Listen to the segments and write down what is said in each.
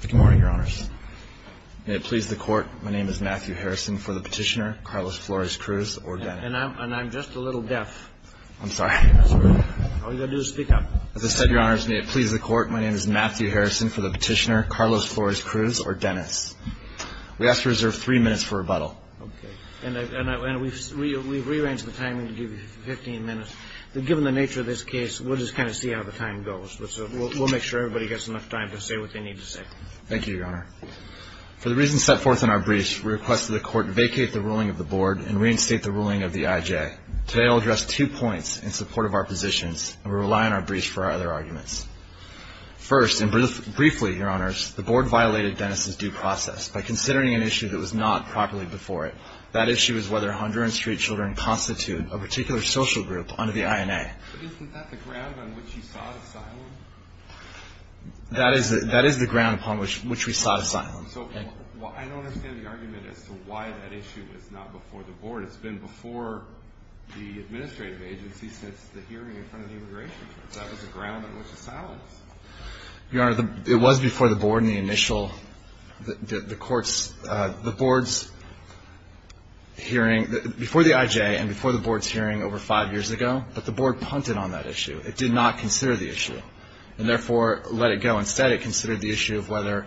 Good morning, Your Honors. May it please the Court, my name is Matthew Harrison for the petitioner, Carlos Flores-Cruz or Dennis. And I'm just a little deaf. I'm sorry. All you've got to do is speak up. As I said, Your Honors, may it please the Court, my name is Matthew Harrison for the petitioner, Carlos Flores-Cruz or Dennis. We ask to reserve three minutes for rebuttal. Okay. And we've rearranged the timing to give you 15 minutes. Given the nature of this case, we'll just kind of see how the time goes. We'll make sure everybody gets enough time to say what they need to say. Thank you, Your Honor. For the reasons set forth in our briefs, we request that the Court vacate the ruling of the Board and reinstate the ruling of the IJ. Today I'll address two points in support of our positions, and we rely on our briefs for our other arguments. First, and briefly, Your Honors, the Board violated Dennis's due process by considering an issue that was not properly before it. That issue is whether Honduran street children constitute a particular social group under the INA. But isn't that the ground on which he sought asylum? That is the ground upon which we sought asylum. So I don't understand the argument as to why that issue was not before the Board. It's been before the administrative agency since the hearing in front of the immigration courts. That was the ground on which it sounds. Your Honor, it was before the Board in the initial, the court's, the Board's hearing, before the IJ and before the Board's hearing over five years ago, but the Board punted on that issue. It did not consider the issue, and therefore let it go. Instead, it considered the issue of whether,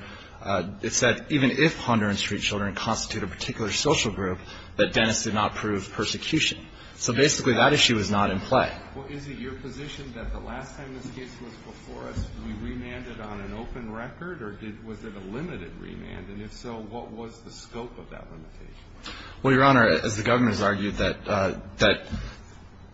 it said even if Honduran street children constitute a particular social group, that Dennis did not prove persecution. So basically that issue is not in play. Well, is it your position that the last time this case was before us, we remanded on an open record? Or was it a limited remand? And if so, what was the scope of that limitation? Well, Your Honor, as the Governor's argued, that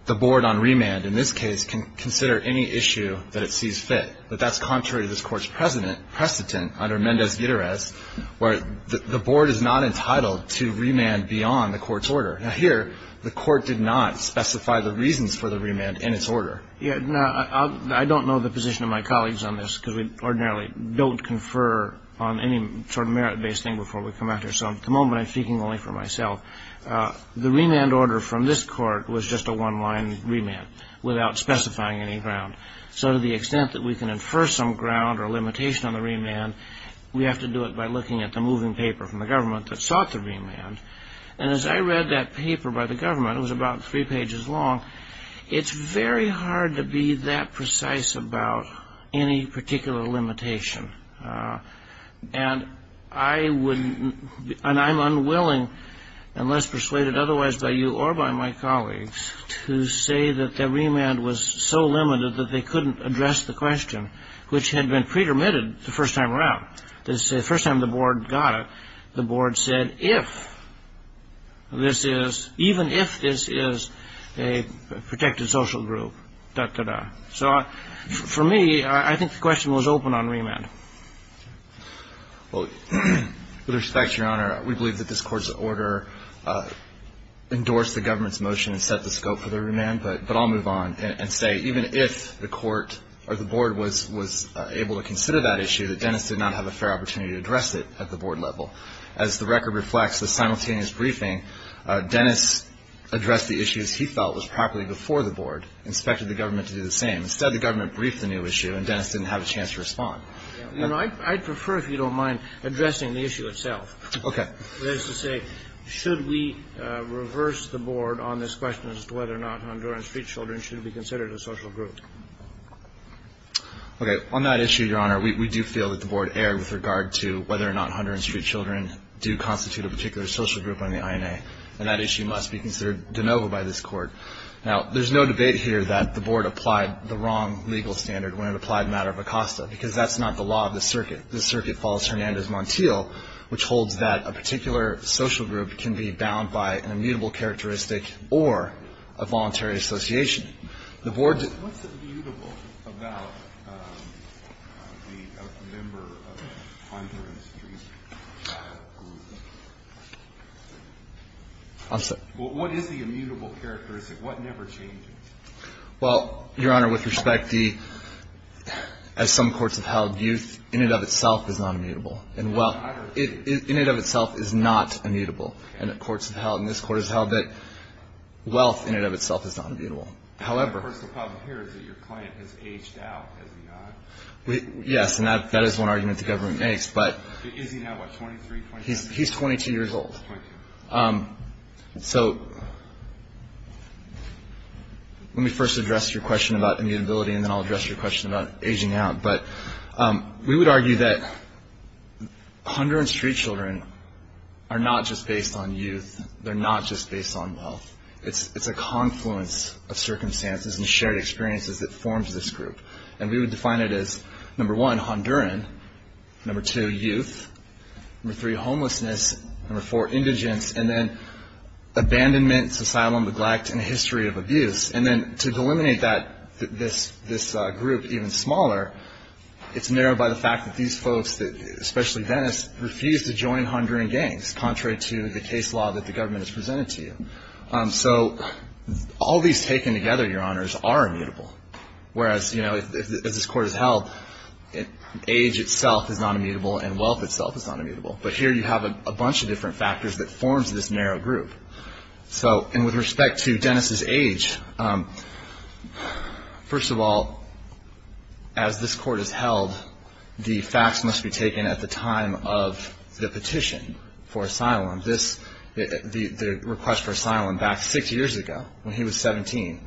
the Board on remand in this case can consider any issue that it sees fit. But that's contrary to this Court's precedent under Mendez-Guitarez, where the Board is not entitled to remand beyond the Court's order. Now here, the Court did not specify the reasons for the remand in its order. Yeah. Now, I don't know the position of my colleagues on this, because we ordinarily don't confer on any sort of merit-based thing before we come out here. So at the moment I'm speaking only for myself. The remand order from this Court was just a one-line remand without specifying any ground. So to the extent that we can infer some ground or limitation on the remand, we have to do it by looking at the moving paper from the government that sought the remand. And as I read that paper by the government, it was about three pages long, it's very hard to be that precise about any particular limitation. And I'm unwilling, unless persuaded otherwise by you or by my colleagues, to say that the remand was so limited that they couldn't address the question, which had been pre-permitted the first time around. The first time the Board got it, the Board said, even if this is a protected social group, da-da-da. So for me, I think the question was open on remand. Well, with respect, Your Honor, we believe that this Court's order endorsed the government's motion and set the scope for the remand. But I'll move on and say even if the Court or the Board was able to consider that issue, that Dennis did not have a fair opportunity to address it at the Board level. As the record reflects, the simultaneous briefing, Dennis addressed the issues he felt was properly before the Board, inspected the government to do the same. Instead, the government briefed the new issue, and Dennis didn't have a chance to respond. I'd prefer if you don't mind addressing the issue itself. Okay. That is to say, should we reverse the Board on this question as to whether or not Honduran street children should be considered a social group? Okay. On that issue, Your Honor, we do feel that the Board erred with regard to whether or not Honduran street children do constitute a particular social group on the INA, and that issue must be considered de novo by this Court. Now, there's no debate here that the Board applied the wrong legal standard when it applied the matter of Acosta, because that's not the law of the circuit. The circuit follows Hernandez Montiel, which holds that a particular social group can be bound by an immutable characteristic or a voluntary association. What's immutable about a member of a Honduran street child group? I'm sorry? What is the immutable characteristic? What never changes? Well, Your Honor, with respect, as some courts have held, youth in and of itself is not immutable. In and of itself is not immutable. And courts have held, and this Court has held, that wealth in and of itself is not immutable. However... The problem here is that your client has aged out, has he not? Yes, and that is one argument the government makes, but... Is he now, what, 23, 22? He's 22 years old. 22. So let me first address your question about immutability, and then I'll address your question about aging out. We would argue that Honduran street children are not just based on youth. They're not just based on wealth. It's a confluence of circumstances and shared experiences that forms this group. And we would define it as, number one, Honduran, number two, youth, number three, homelessness, number four, indigence, and then abandonment, societal neglect, and a history of abuse. And then to delimit this group even smaller, it's narrowed by the fact that these folks, especially Dennis, refuse to join Honduran gangs, contrary to the case law that the government has presented to you. So all these taken together, Your Honors, are immutable. Whereas, as this Court has held, age itself is not immutable and wealth itself is not immutable. But here you have a bunch of different factors that forms this narrow group. And with respect to Dennis' age, first of all, as this Court has held, the facts must be taken at the time of the petition for asylum, the request for asylum back six years ago when he was 17.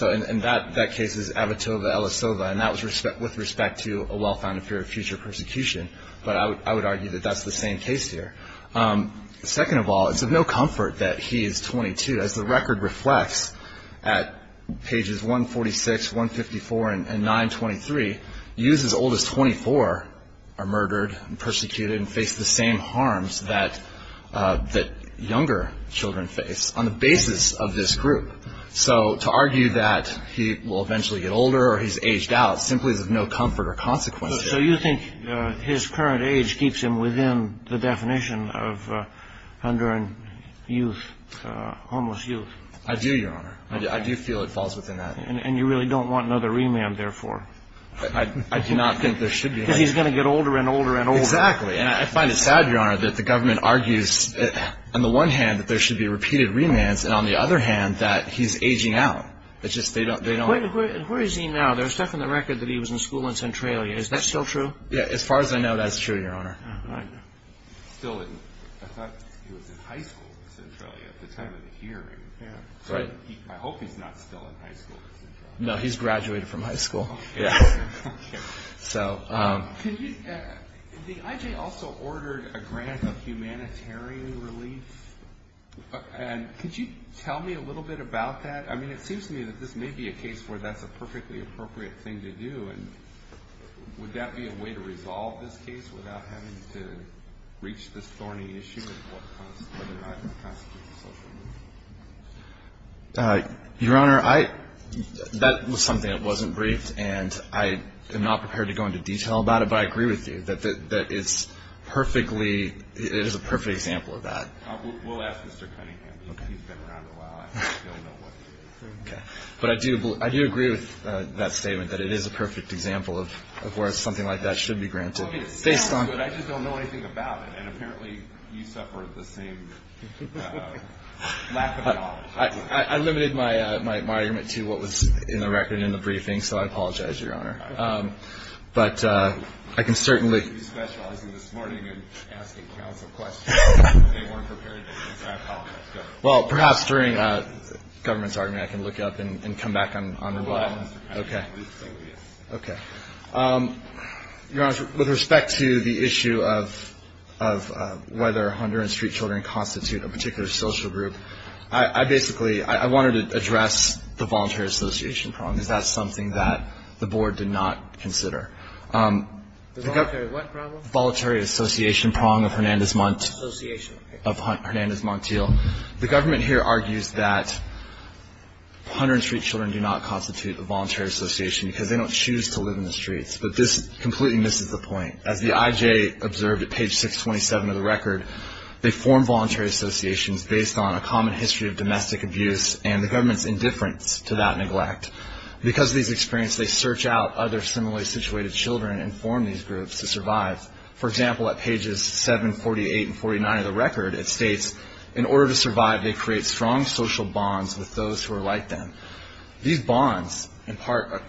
And that case is Avitova-Ellisova, and that was with respect to a well-founded fear of future persecution. But I would argue that that's the same case here. Second of all, it's of no comfort that he is 22. As the record reflects at pages 146, 154, and 923, youths as old as 24 are murdered and persecuted and face the same harms that younger children face on the basis of this group. So to argue that he will eventually get older or he's aged out simply is of no comfort or consequence. So you think his current age keeps him within the definition of Honduran youth, homeless youth? I do, Your Honor. I do feel it falls within that. And you really don't want another remand, therefore? I do not think there should be. Because he's going to get older and older and older. Exactly. And I find it sad, Your Honor, that the government argues on the one hand that there should be repeated remands and on the other hand that he's aging out. Where is he now? There's stuff in the record that he was in school in Centralia. Is that still true? As far as I know, that's true, Your Honor. I thought he was in high school in Centralia at the time of the hearing. I hope he's not still in high school in Centralia. No, he's graduated from high school. The IJ also ordered a grant of humanitarian relief. Could you tell me a little bit about that? I mean, it seems to me that this may be a case where that's a perfectly appropriate thing to do. And would that be a way to resolve this case without having to reach this thorny issue of whether or not it constitutes a social movement? Your Honor, that was something that wasn't briefed, and I am not prepared to go into detail about it, but I agree with you that it is a perfect example of that. We'll ask Mr. Cunningham. He's been around a while. I don't know what he thinks. But I do agree with that statement that it is a perfect example of where something like that should be granted. I just don't know anything about it, and apparently you suffer the same lack of knowledge. I limited my argument to what was in the record in the briefing, so I apologize, Your Honor. But I can certainly... You were specializing this morning in asking counsel questions. They weren't prepared to answer. I apologize. Go ahead. Well, perhaps during the government's argument I can look it up and come back on the line. Go ahead. Okay. Your Honor, with respect to the issue of whether Honduran street children constitute a particular social group, I basically wanted to address the voluntary association problem, because that's something that the Board did not consider. The voluntary what problem? Voluntary association prong of Hernandez Montiel. Association. Of Hernandez Montiel. The government here argues that Honduran street children do not constitute a voluntary association because they don't choose to live in the streets. But this completely misses the point. As the IJ observed at page 627 of the record, they form voluntary associations based on a common history of domestic abuse and the government's indifference to that neglect. Because of these experiences, they search out other similarly situated children and form these groups to survive. For example, at pages 7, 48, and 49 of the record, it states, in order to survive, they create strong social bonds with those who are like them. These bonds impart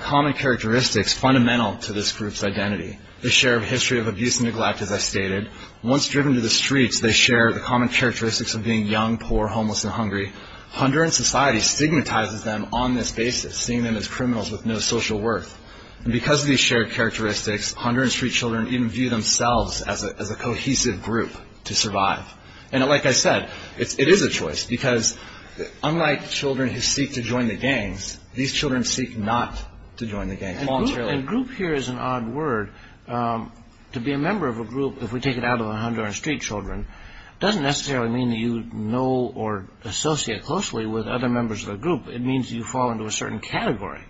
common characteristics fundamental to this group's identity. They share a history of abuse and neglect, as I stated. Once driven to the streets, they share the common characteristics of being young, poor, homeless, and hungry. Honduran society stigmatizes them on this basis, seeing them as criminals with no social worth. And because of these shared characteristics, Honduran street children even view themselves as a cohesive group to survive. And like I said, it is a choice, because unlike children who seek to join the gangs, these children seek not to join the gangs voluntarily. Well, and group here is an odd word. To be a member of a group, if we take it out of the Honduran street children, doesn't necessarily mean that you know or associate closely with other members of the group. It means you fall into a certain category.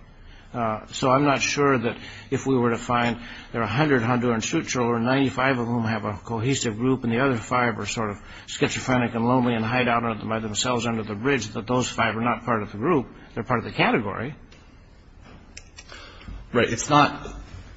So I'm not sure that if we were to find there are 100 Honduran street children, 95 of whom have a cohesive group, and the other 5 are sort of schizophrenic and lonely and hide out by themselves under the bridge, that those 5 are not part of the group. They're part of the category. Right. It's not,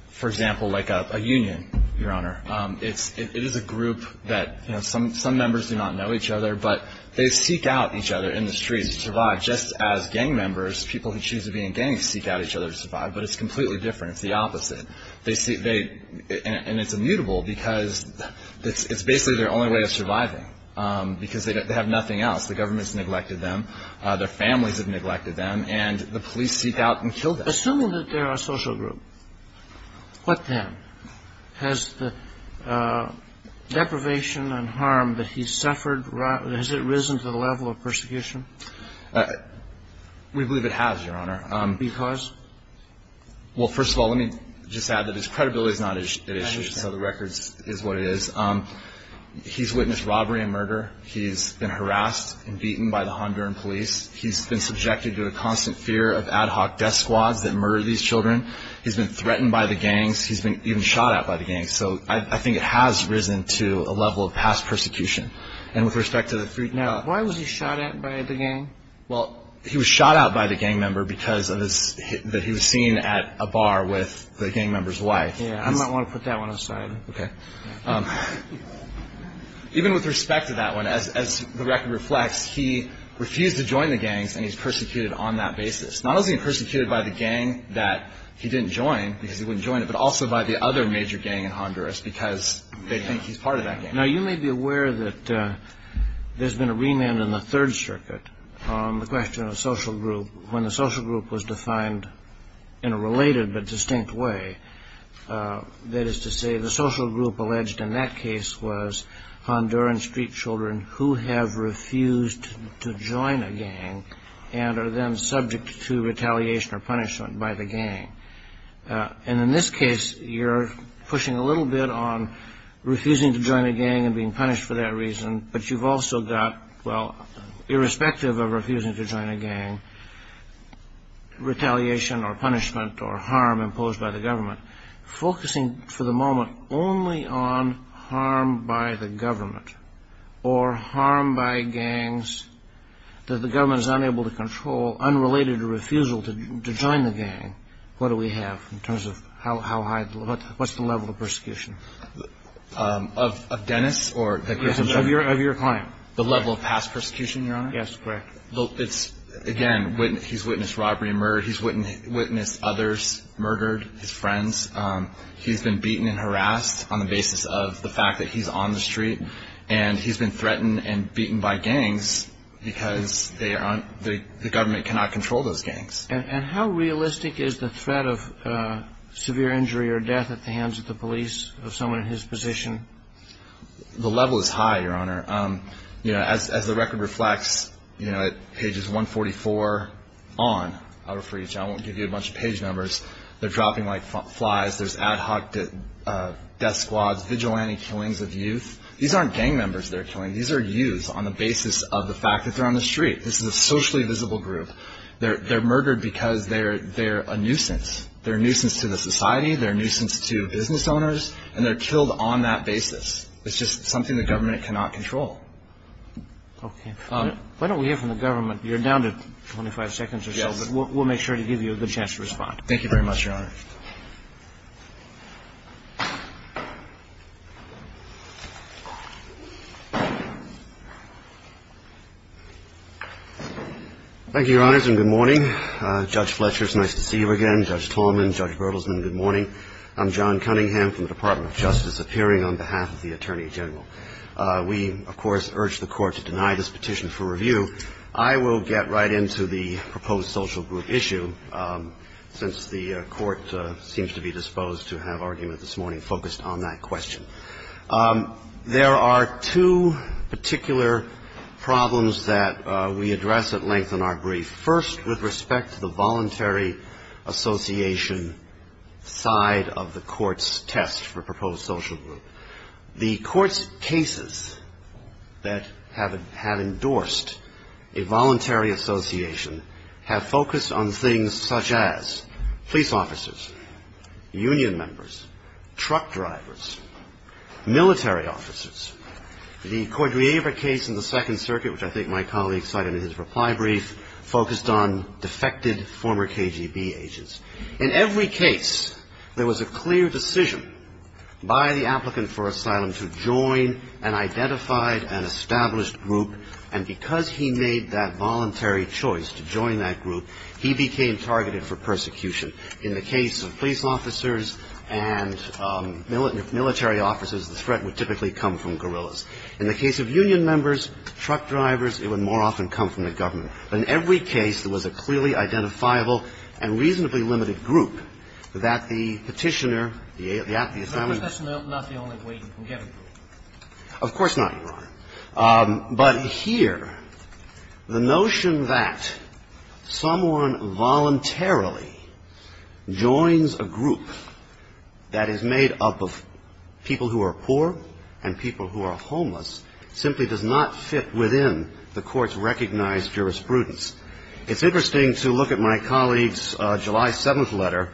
for example, like a union, Your Honor. It is a group that some members do not know each other, but they seek out each other in the streets to survive. Just as gang members, people who choose to be in gangs, seek out each other to survive. But it's completely different. It's the opposite. And it's immutable, because it's basically their only way of surviving, because they have nothing else. The government has neglected them. Their families have neglected them. And the police seek out and kill them. Assuming that they're a social group, what then? Has the deprivation and harm that he's suffered, has it risen to the level of persecution? We believe it has, Your Honor. Because? Well, first of all, let me just add that his credibility is not at issue. So the record is what it is. He's witnessed robbery and murder. He's been harassed and beaten by the Honduran police. He's been subjected to a constant fear of ad hoc death squads that murder these children. He's been threatened by the gangs. He's been even shot at by the gangs. So I think it has risen to a level of past persecution. And with respect to the three- Now, why was he shot at by the gang? Well, he was shot at by the gang member because he was seen at a bar with the gang member's wife. Yeah, I might want to put that one aside. Okay. Even with respect to that one, as the record reflects, he refused to join the gangs, and he's persecuted on that basis. Not only is he persecuted by the gang that he didn't join because he wouldn't join it, but also by the other major gang in Honduras because they think he's part of that gang. Now, you may be aware that there's been a remand in the Third Circuit on the question of social group. When the social group was defined in a related but distinct way, that is to say, the social group alleged in that case was Honduran street children who have refused to join a gang and are then subject to retaliation or punishment by the gang. And in this case, you're pushing a little bit on refusing to join a gang and being punished for that reason, but you've also got, well, irrespective of refusing to join a gang, retaliation or punishment or harm imposed by the government. Focusing for the moment only on harm by the government or harm by gangs that the government is unable to control, unrelated to refusal to join the gang, what do we have in terms of how high, what's the level of persecution? Of Dennis? Yes, of your client. The level of past persecution, Your Honor? Yes, correct. Again, he's witnessed robbery and murder. He's witnessed others murdered, his friends. He's been beaten and harassed on the basis of the fact that he's on the street, and he's been threatened and beaten by gangs because the government cannot control those gangs. And how realistic is the threat of severe injury or death at the hands of the police, of someone in his position? The level is high, Your Honor. As the record reflects, at pages 144 on, I won't give you a bunch of page numbers, they're dropping like flies. There's ad hoc death squads, vigilante killings of youth. These aren't gang members they're killing. These are youths on the basis of the fact that they're on the street. This is a socially visible group. They're murdered because they're a nuisance. They're a nuisance to the society, they're a nuisance to business owners, and they're killed on that basis. It's just something the government cannot control. Okay. Why don't we hear from the government? You're down to 25 seconds or so, but we'll make sure to give you a good chance to respond. Thank you very much, Your Honor. Thank you, Your Honors, and good morning. Judge Fletcher, it's nice to see you again. Judge Tallman, Judge Gertelsman, good morning. I'm John Cunningham from the Department of Justice, appearing on behalf of the Attorney General. We, of course, urge the Court to deny this petition for review. I will get right into the proposed social group issue. I'm going to be brief, and I'm going to try to keep the argument that seems to be disposed to have argument this morning focused on that question. There are two particular problems that we address at length in our brief. First, with respect to the voluntary association side of the Court's test for proposed social group. The Court's cases that have endorsed a voluntary association have focused on things such as police officers, union members, truck drivers, military officers. The Cordiaver case in the Second Circuit, which I think my colleague cited in his reply brief, focused on defected former KGB agents. In every case, there was a clear decision by the applicant for asylum to join an identified and established group, and because he made that voluntary choice to join that group, he became targeted for persecution. In the case of police officers and military officers, the threat would typically come from guerrillas. In the case of union members, truck drivers, it would more often come from the government. But in every case, there was a clearly identifiable and reasonably limited group that the Petitioner, the affiliate family. Of course, that's not the only way you can get approval. Of course not, Your Honor. But here, the notion that someone voluntarily joins a group that is made up of people who are poor and people who are homeless simply does not fit within the Court's recognized jurisprudence. It's interesting to look at my colleague's July 7th letter,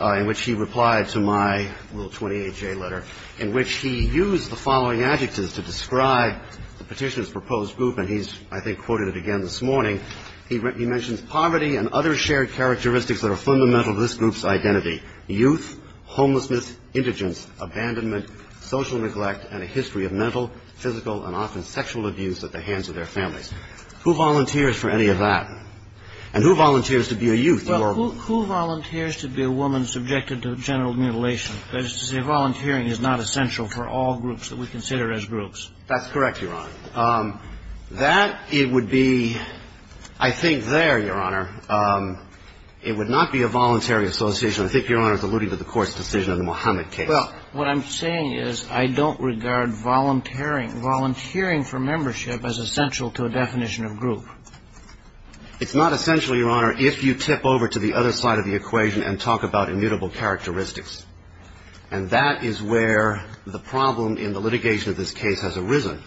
in which he replied to my Rule 28J letter, in which he used the following adjectives to describe the Petitioner's proposed group, and he's, I think, quoted it again this morning. He mentions poverty and other shared characteristics that are fundamental to this group's identity. Youth, homelessness, indigence, abandonment, social neglect, and a history of mental, physical, and often sexual abuse at the hands of their families. Who volunteers for any of that? And who volunteers to be a youth? Well, who volunteers to be a woman subjected to general mutilation? That is to say, volunteering is not essential for all groups that we consider as groups. That's correct, Your Honor. That, it would be, I think there, Your Honor, it would not be a voluntary association. I think Your Honor is alluding to the Court's decision in the Mohamed case. Well, what I'm saying is I don't regard volunteering for membership as essential to a definition of group. It's not essential, Your Honor, if you tip over to the other side of the equation and talk about immutable characteristics. And that is where the problem in the litigation of this case has arisen.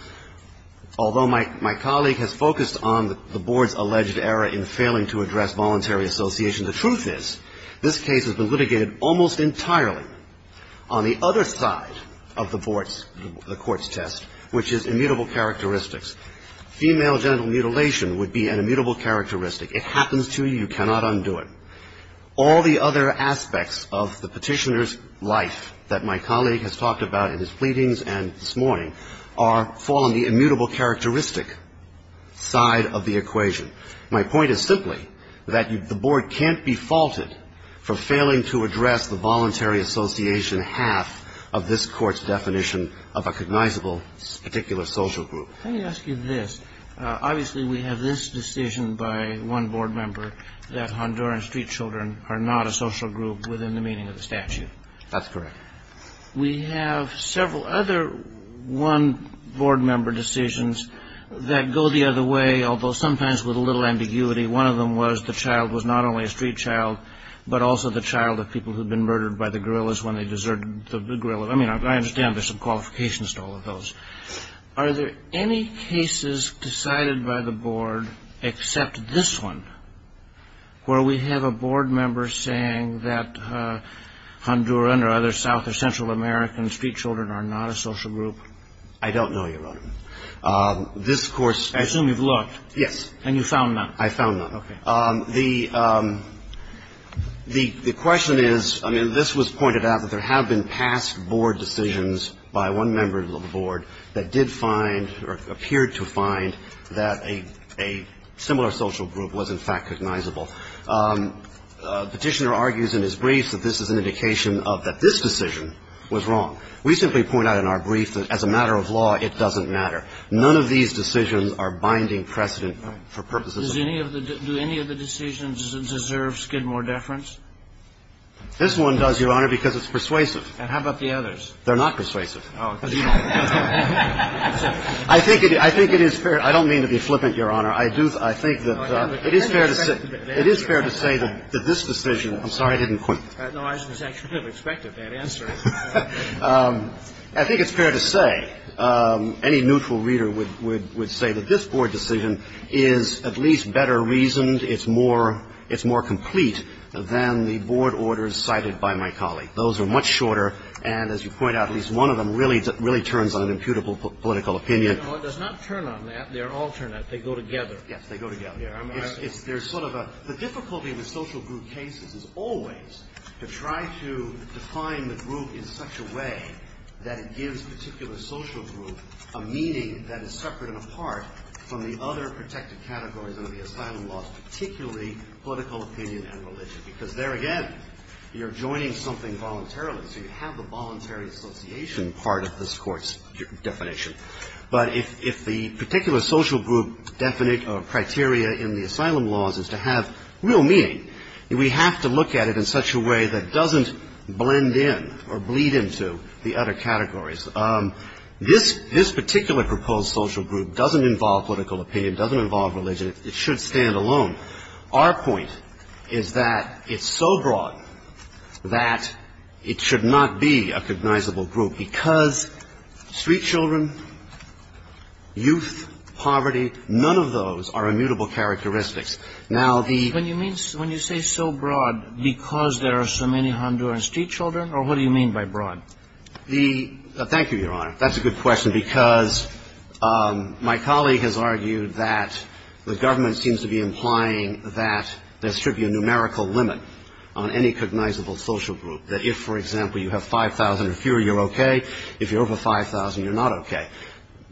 Although my colleague has focused on the Board's alleged error in failing to address voluntary association, the truth is this case has been litigated almost entirely on the other side of the Board's, the Court's test, which is immutable characteristics. Female genital mutilation would be an immutable characteristic. It happens to you. You cannot undo it. All the other aspects of the petitioner's life that my colleague has talked about in his pleadings and this morning fall on the immutable characteristic side of the equation. My point is simply that the Board can't be faulted for failing to address the voluntary association half of this Court's definition of a cognizable particular social group. Let me ask you this. Obviously, we have this decision by one Board member that Honduran street children are not a social group within the meaning of the statute. That's correct. We have several other one Board member decisions that go the other way, although sometimes with a little ambiguity. One of them was the child was not only a street child, but also the child of people who had been murdered by the guerrillas when they deserted the guerrillas. I mean, I understand there's some qualifications to all of those. Are there any cases decided by the Board except this one where we have a Board member saying that Honduran or other South or Central American street children are not a social group? I don't know, Your Honor. This Court's- I assume you've looked. Yes. And you found none. I found none. Okay. The question is, I mean, this was pointed out that there have been past Board decisions by one member of the Board that did find or appeared to find that a similar social group was, in fact, cognizable. Petitioner argues in his briefs that this is an indication of that this decision was wrong. We simply point out in our brief that as a matter of law, it doesn't matter. None of these decisions are binding precedent for purposes of- Does any of the decisions deserve skid more deference? This one does, Your Honor, because it's persuasive. And how about the others? They're not persuasive. Oh, because you don't- I think it is fair. I don't mean to be flippant, Your Honor. I think that it is fair to say that this decision- I'm sorry, I didn't quit. No, I was actually going to expect a bad answer. I think it's fair to say, any neutral reader would say that this Board decision is at least better reasoned. It's more complete than the Board orders cited by my colleague. Those are much shorter, and as you point out, at least one of them really turns on an imputable political opinion. No, it does not turn on that. They're alternate. They go together. Yes, they go together. The difficulty with social group cases is always to try to define the group in such a way that it gives a particular social group a meaning that is separate and apart from the other protected categories under the asylum laws, particularly political opinion and religion. Because there again, you're joining something voluntarily, so you have the voluntary association part of this Court's definition. But if the particular social group definite or criteria in the asylum laws is to have real meaning, we have to look at it in such a way that doesn't blend in or bleed into the other categories. This particular proposed social group doesn't involve political opinion, doesn't involve religion. It should stand alone. Our point is that it's so broad that it should not be a cognizable group, because street children, youth, poverty, none of those are immutable characteristics. Now, the ---- When you say so broad, because there are so many Honduran street children, or what do you mean by broad? The ---- thank you, Your Honor. That's a good question, because my colleague has argued that the government seems to be implying that there should be a numerical limit on any cognizable social group. That if, for example, you have 5,000 or fewer, you're okay. If you're over 5,000, you're not okay.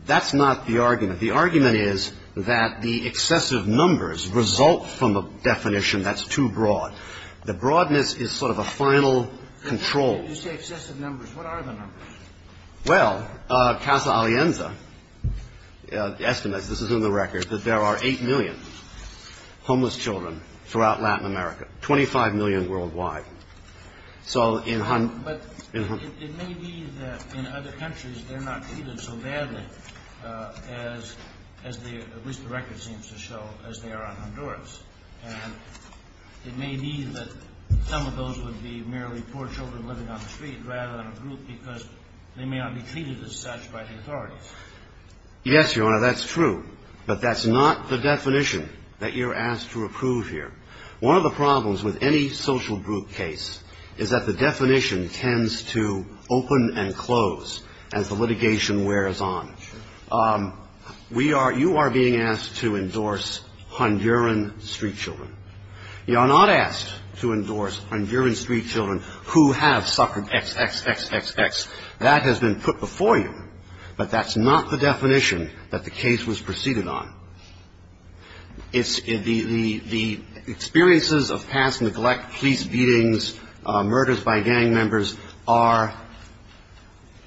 That's not the argument. The argument is that the excessive numbers result from a definition that's too broad. The broadness is sort of a final control. You say excessive numbers. What are the numbers? Well, Casa Alienza estimates, this is in the record, that there are 8 million homeless children throughout Latin America, 25 million worldwide. So in ---- But it may be that in other countries, they're not treated so badly as they, at least the record seems to show, as they are on Honduras. And it may be that some of those would be merely poor children living on the street, rather than a group, because they may not be treated as such by the authorities. Yes, Your Honor, that's true. But that's not the definition that you're asked to approve here. One of the problems with any social group case is that the definition tends to open and close as the litigation wears on. You are being asked to endorse Honduran street children. You are not asked to endorse Honduran street children who have suffered XXXXX. That has been put before you. But that's not the definition that the case was preceded on. It's the experiences of past neglect, police beatings, murders by gang members are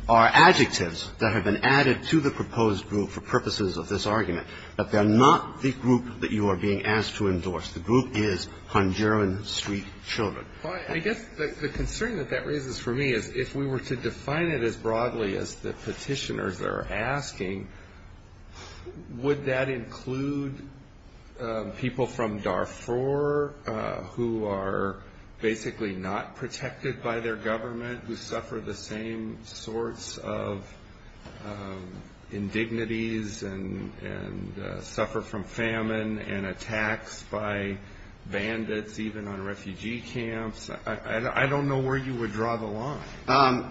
adjectives that have been added to the proposed group for purposes of this argument. But they're not the group that you are being asked to endorse. The group is Honduran street children. I guess the concern that that raises for me is if we were to define it as broadly as the petitioners are asking, would that include people from Darfur who are basically not protected by their government, who suffer the same sorts of indignities and suffer from famine and attacks by bandits even on refugee camps? I don't know where you would draw the line.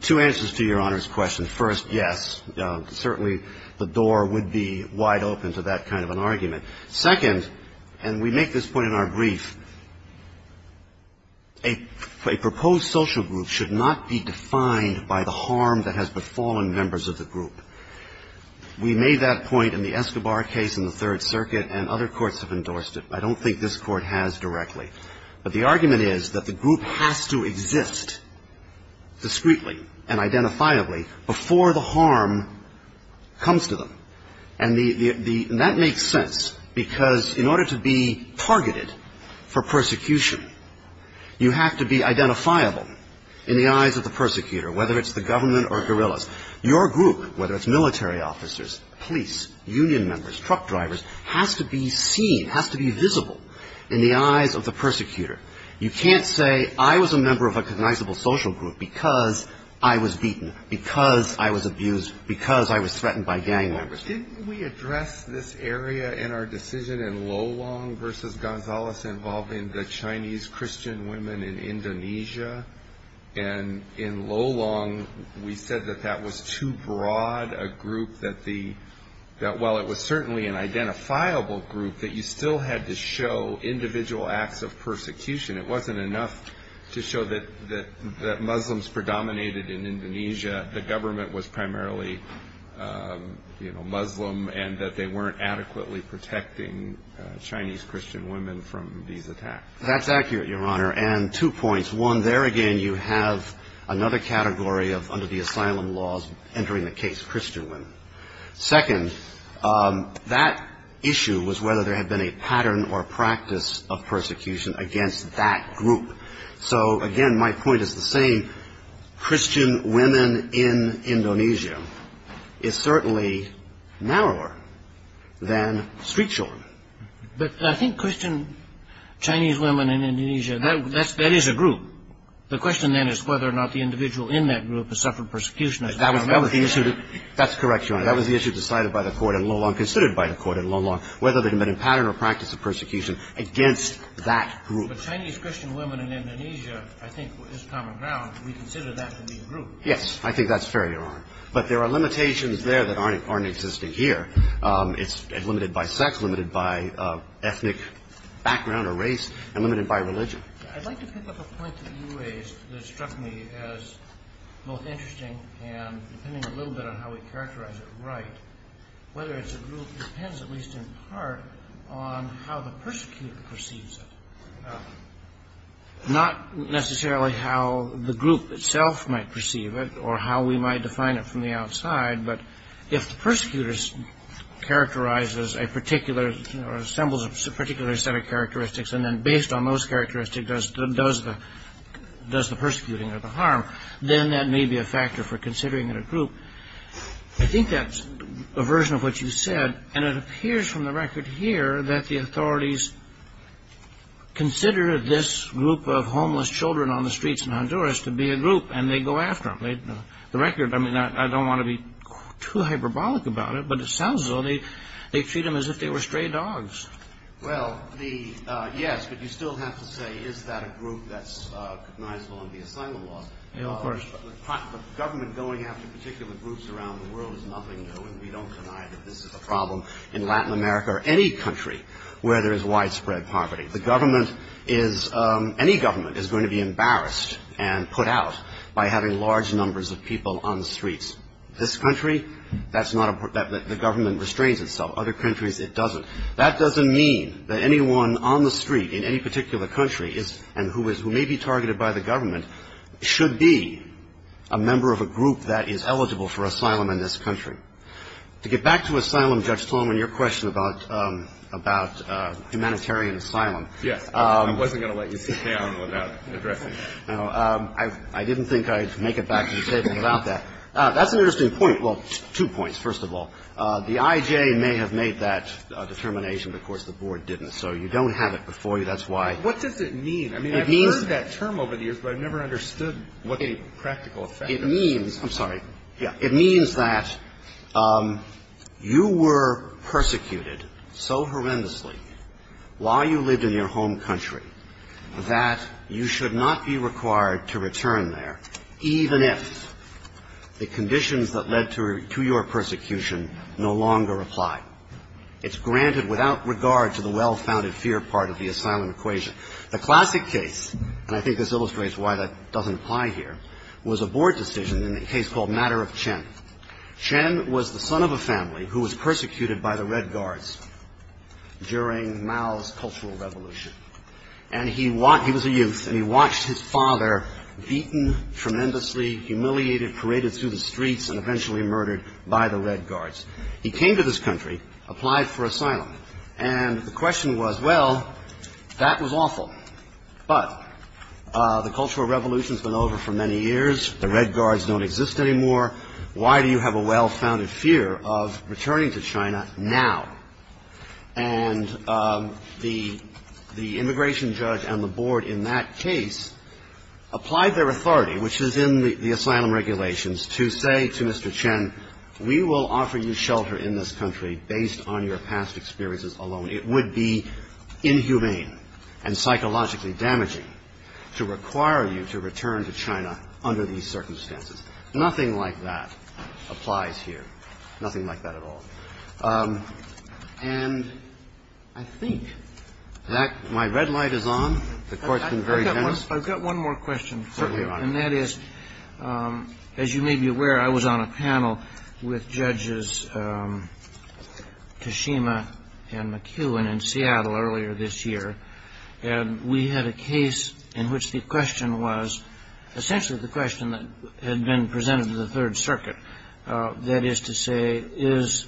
Two answers to Your Honor's question. First, yes, certainly the door would be wide open to that kind of an argument. Second, and we make this point in our brief, a proposed social group should not be defined by the harm that has befallen members of the group. We made that point in the Escobar case in the Third Circuit, and other courts have endorsed it. I don't think this Court has directly. But the argument is that the group has to exist discreetly and identifiably before the harm comes to them. And that makes sense because in order to be targeted for persecution, you have to be identifiable in the eyes of the persecutor, whether it's the government or guerrillas. Your group, whether it's military officers, police, union members, truck drivers, has to be seen, has to be visible in the eyes of the persecutor. You can't say I was a member of a recognizable social group because I was beaten, because I was abused, because I was threatened by gang members. Didn't we address this area in our decision in Lolong versus Gonzales involving the Chinese Christian women in Indonesia? And in Lolong, we said that that was too broad a group that the – that while it was certainly an identifiable group, that you still had to show individual acts of persecution. It wasn't enough to show that Muslims predominated in Indonesia, the government was primarily, you know, Muslim, and that they weren't adequately protecting Chinese Christian women from these attacks. That's accurate, Your Honor. And two points. One, there again you have another category of under the asylum laws entering the case, Christian women. Second, that issue was whether there had been a pattern or practice of persecution against that group. So, again, my point is the same. Christian women in Indonesia is certainly narrower than street children. But I think Christian Chinese women in Indonesia, that is a group. The question then is whether or not the individual in that group has suffered persecution. That's correct, Your Honor. That was the issue decided by the court in Lolong, considered by the court in Lolong, whether there had been a pattern or practice of persecution against that group. But Chinese Christian women in Indonesia, I think, is common ground. We consider that to be a group. Yes, I think that's fair, Your Honor. But there are limitations there that aren't existing here. It's limited by sex, limited by ethnic background or race, and limited by religion. I'd like to pick up a point that you raised that struck me as both interesting and depending a little bit on how we characterize it right, whether it's a group depends at least in part on how the persecutor perceives it. Not necessarily how the group itself might perceive it or how we might define it from the outside, but if the persecutor characterizes a particular or assembles a particular set of characteristics and then based on those characteristics does the persecuting or the harm, then that may be a factor for considering it a group. I think that's a version of what you said, and it appears from the record here that the authorities consider this group of homeless children on the streets in Honduras to be a group, and they go after them. The record, I mean, I don't want to be too hyperbolic about it, but it sounds as though they treat them as if they were stray dogs. Well, yes, but you still have to say is that a group that's recognizable in the asylum laws. Of course. The government going after particular groups around the world is nothing new, and we don't deny that this is a problem in Latin America or any country where there is widespread poverty. Any government is going to be embarrassed and put out by having large numbers of people on the streets. This country, the government restrains itself. Other countries it doesn't. That doesn't mean that anyone on the street in any particular country is and who may be targeted by the government should be a member of a group that is eligible for asylum in this country. To get back to asylum, Judge Tolman, your question about humanitarian asylum. Yes. I wasn't going to let you sit down without addressing that. I didn't think I'd make it back to the table without that. That's an interesting point. Well, two points, first of all. The IJ may have made that determination, but, of course, the Board didn't. So you don't have it before you. That's why. What does it mean? I mean, I've heard that term over the years, but I've never understood what the practical effect of it is. I'm sorry. It means that you were persecuted so horrendously while you lived in your home country that you should not be required to return there, even if the conditions that led to your persecution no longer apply. It's granted without regard to the well-founded fear part of the asylum equation. The classic case, and I think this illustrates why that doesn't apply here, was a Board decision in a case called Matter of Chen. Chen was the son of a family who was persecuted by the Red Guards during Mao's Cultural Revolution. And he was a youth, and he watched his father beaten tremendously, humiliated, paraded through the streets, and eventually murdered by the Red Guards. He came to this country, applied for asylum, and the question was, well, that was awful. But the Cultural Revolution has been over for many years. The Red Guards don't exist anymore. Why do you have a well-founded fear of returning to China now? And the immigration judge and the Board in that case applied their authority, which is in the asylum regulations, to say to Mr. Chen, we will offer you shelter in this country based on your past experiences alone. It would be inhumane and psychologically damaging to require you to return to China under these circumstances. Nothing like that applies here, nothing like that at all. And I think that my red light is on. The Court's been very generous. Certainly, Your Honor. And that is, as you may be aware, I was on a panel with Judges Kashima and McHugh in Seattle earlier this year, and we had a case in which the question was, essentially the question that had been presented to the Third Circuit, that is to say, is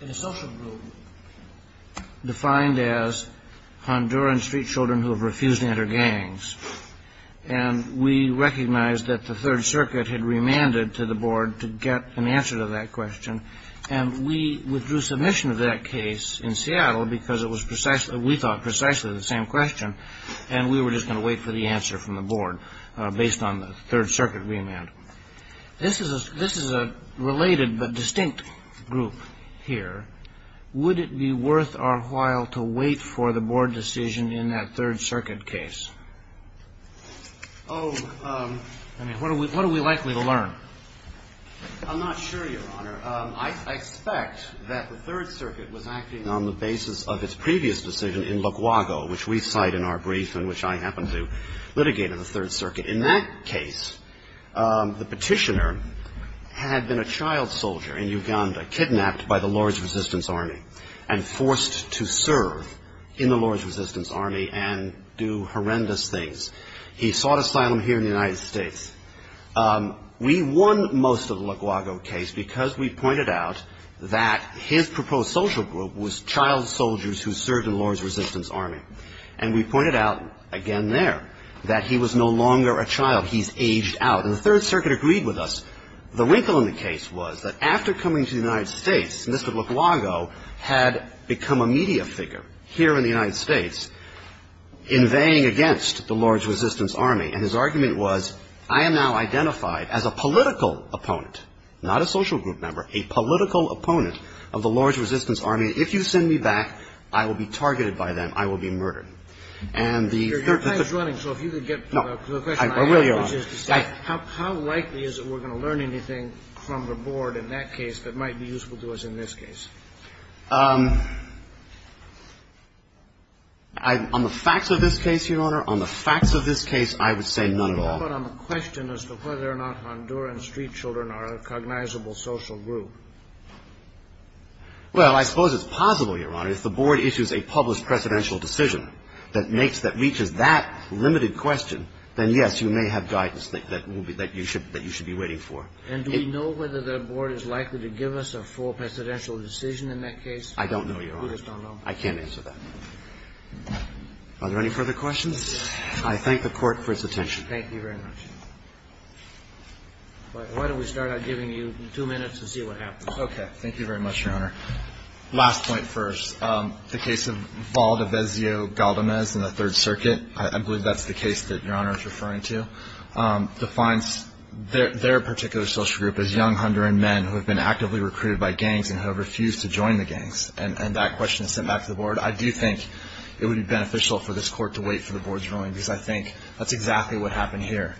in a social group defined as Honduran street children who have refused to enter gangs, and we recognized that the Third Circuit had remanded to the Board to get an answer to that question, and we withdrew submission of that case in Seattle because we thought precisely the same question, and we were just going to wait for the answer from the Board based on the Third Circuit remand. This is a related but distinct group here. Would it be worth our while to wait for the Board decision in that Third Circuit case? Oh, I mean, what are we likely to learn? I'm not sure, Your Honor. I expect that the Third Circuit was acting on the basis of its previous decision in Lugwago, which we cite in our brief and which I happened to litigate in the Third Circuit. In that case, the petitioner had been a child soldier in Uganda kidnapped by the Lord's Resistance Army and forced to serve in the Lord's Resistance Army and do horrendous things. He sought asylum here in the United States. We won most of the Lugwago case because we pointed out that his proposed social group was child soldiers who served in the Lord's Resistance Army, and we pointed out again there that he was no longer a child. He's aged out. And the Third Circuit agreed with us. The wrinkle in the case was that after coming to the United States, Mr. Lugwago had become a media figure here in the United States, invading against the Lord's Resistance Army, and his argument was, I am now identified as a political opponent, not a social group member, a political opponent of the Lord's Resistance Army. If you send me back, I will be targeted by them. I will be murdered. And the Third Circuit ---- Your time is running. So if you could get to the question ---- No. I will, Your Honor. How likely is it we're going to learn anything from the board in that case that might be useful to us in this case? On the facts of this case, Your Honor, on the facts of this case, I would say none at all. But on the question as to whether or not Honduran street children are a cognizable social group. Well, I suppose it's possible, Your Honor. If the board issues a published precedential decision that makes ---- that reaches that limited question, then, yes, you may have guidance that you should be waiting for. And do we know whether the board is likely to give us a full precedential decision in that case? I don't know, Your Honor. We just don't know. I can't answer that. Are there any further questions? I thank the Court for its attention. Thank you very much. Why don't we start out giving you two minutes and see what happens. Okay. Thank you very much, Your Honor. Last point first. The case of Valdebezio-Galdamez in the Third Circuit, I believe that's the case that Your Honor is referring to, defines their particular social group as young Honduran men who have been actively recruited by gangs and who have refused to join the gangs. And that question is sent back to the board. I do think it would be beneficial for this Court to wait for the board's ruling because I think that's exactly what happened here.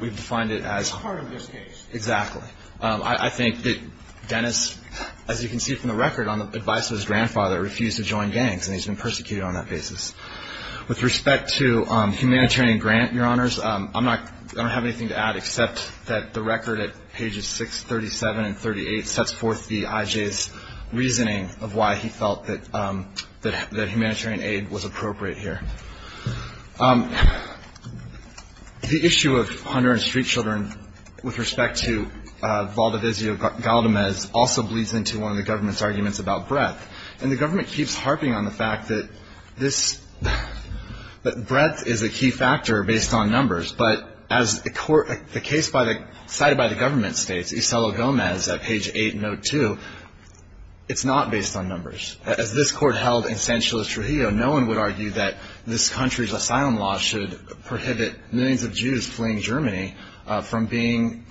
We've defined it as part of this case. Exactly. I think that Dennis, as you can see from the record, on the advice of his grandfather, refused to join gangs and he's been persecuted on that basis. With respect to humanitarian grant, Your Honors, I don't have anything to add except that the record at pages 6, 37, and 38, sets forth the IJ's reasoning of why he felt that humanitarian aid was appropriate here. The issue of Honduran street children with respect to Valdebezio-Galdamez also bleeds into one of the government's arguments about breadth. And the government keeps harping on the fact that this, that breadth is a key factor based on numbers. But as the case cited by the government states, Iselo Gomez, page 8, note 2, it's not based on numbers. As this Court held in San Chile Trujillo, no one would argue that this country's asylum law should prohibit millions of Jews fleeing Germany from being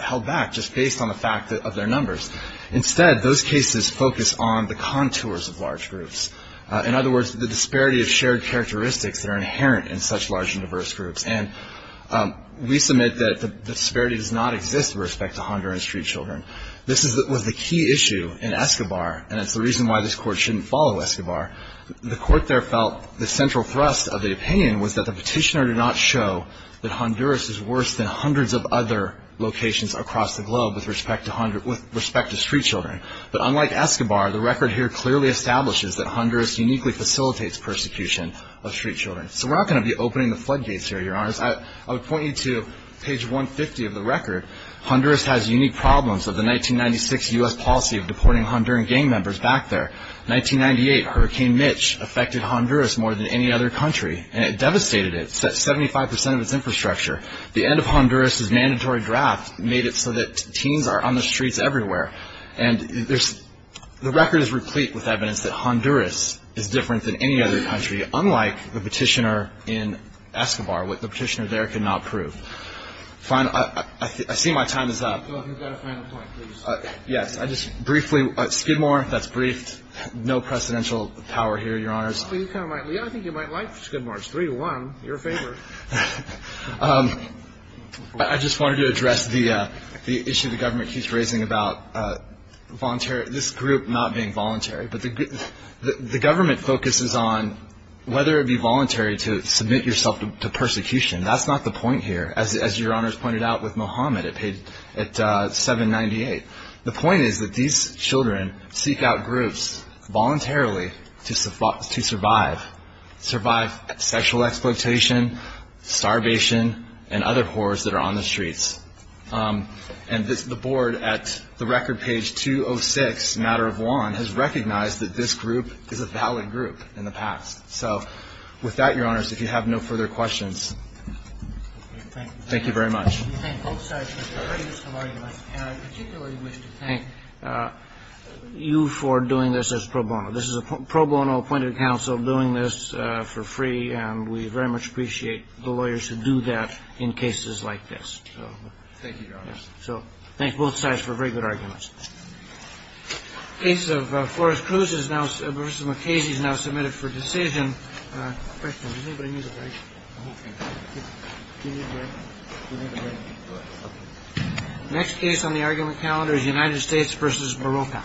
held back just based on the fact of their numbers. Instead, those cases focus on the contours of large groups. In other words, the disparity of shared characteristics that are inherent in such large and diverse groups. And we submit that the disparity does not exist with respect to Honduran street children. This was the key issue in Escobar, and it's the reason why this Court shouldn't follow Escobar. The Court there felt the central thrust of the opinion was that the petitioner did not show that Honduras is worse than hundreds of other locations across the globe with respect to street children. But unlike Escobar, the record here clearly establishes that Honduras uniquely facilitates persecution of street children. So we're not going to be opening the floodgates here, Your Honors. I would point you to page 150 of the record. Honduras has unique problems of the 1996 U.S. policy of deporting Honduran gang members back there. 1998 Hurricane Mitch affected Honduras more than any other country, and it devastated it. It set 75 percent of its infrastructure. The end of Honduras' mandatory draft made it so that teens are on the streets everywhere. And the record is replete with evidence that Honduras is different than any other country, unlike the petitioner in Escobar, what the petitioner there could not prove. I see my time is up. You've got a final point, please. Yes. I just briefly, Skidmore, that's briefed. No precedential power here, Your Honors. I think you might like Skidmore. It's 3-1. Your favor. I just wanted to address the issue the government keeps raising about this group not being voluntary. But the government focuses on whether it would be voluntary to submit yourself to persecution. That's not the point here. As Your Honors pointed out with Mohammed, it paid at $7.98. The point is that these children seek out groups voluntarily to survive, survive sexual exploitation, starvation, and other horrors that are on the streets. And the board at the record page 206, matter of law, has recognized that this group is a valid group in the past. So with that, Your Honors, if you have no further questions. Thank you very much. I particularly wish to thank you for doing this as pro bono. This is a pro bono appointed counsel doing this for free, and we very much appreciate the lawyers who do that in cases like this. Thank you, Your Honors. So thanks both sides for very good arguments. The case of Flores-Cruz is now submitted for decision. Next case on the argument calendar is United States v. Morocco.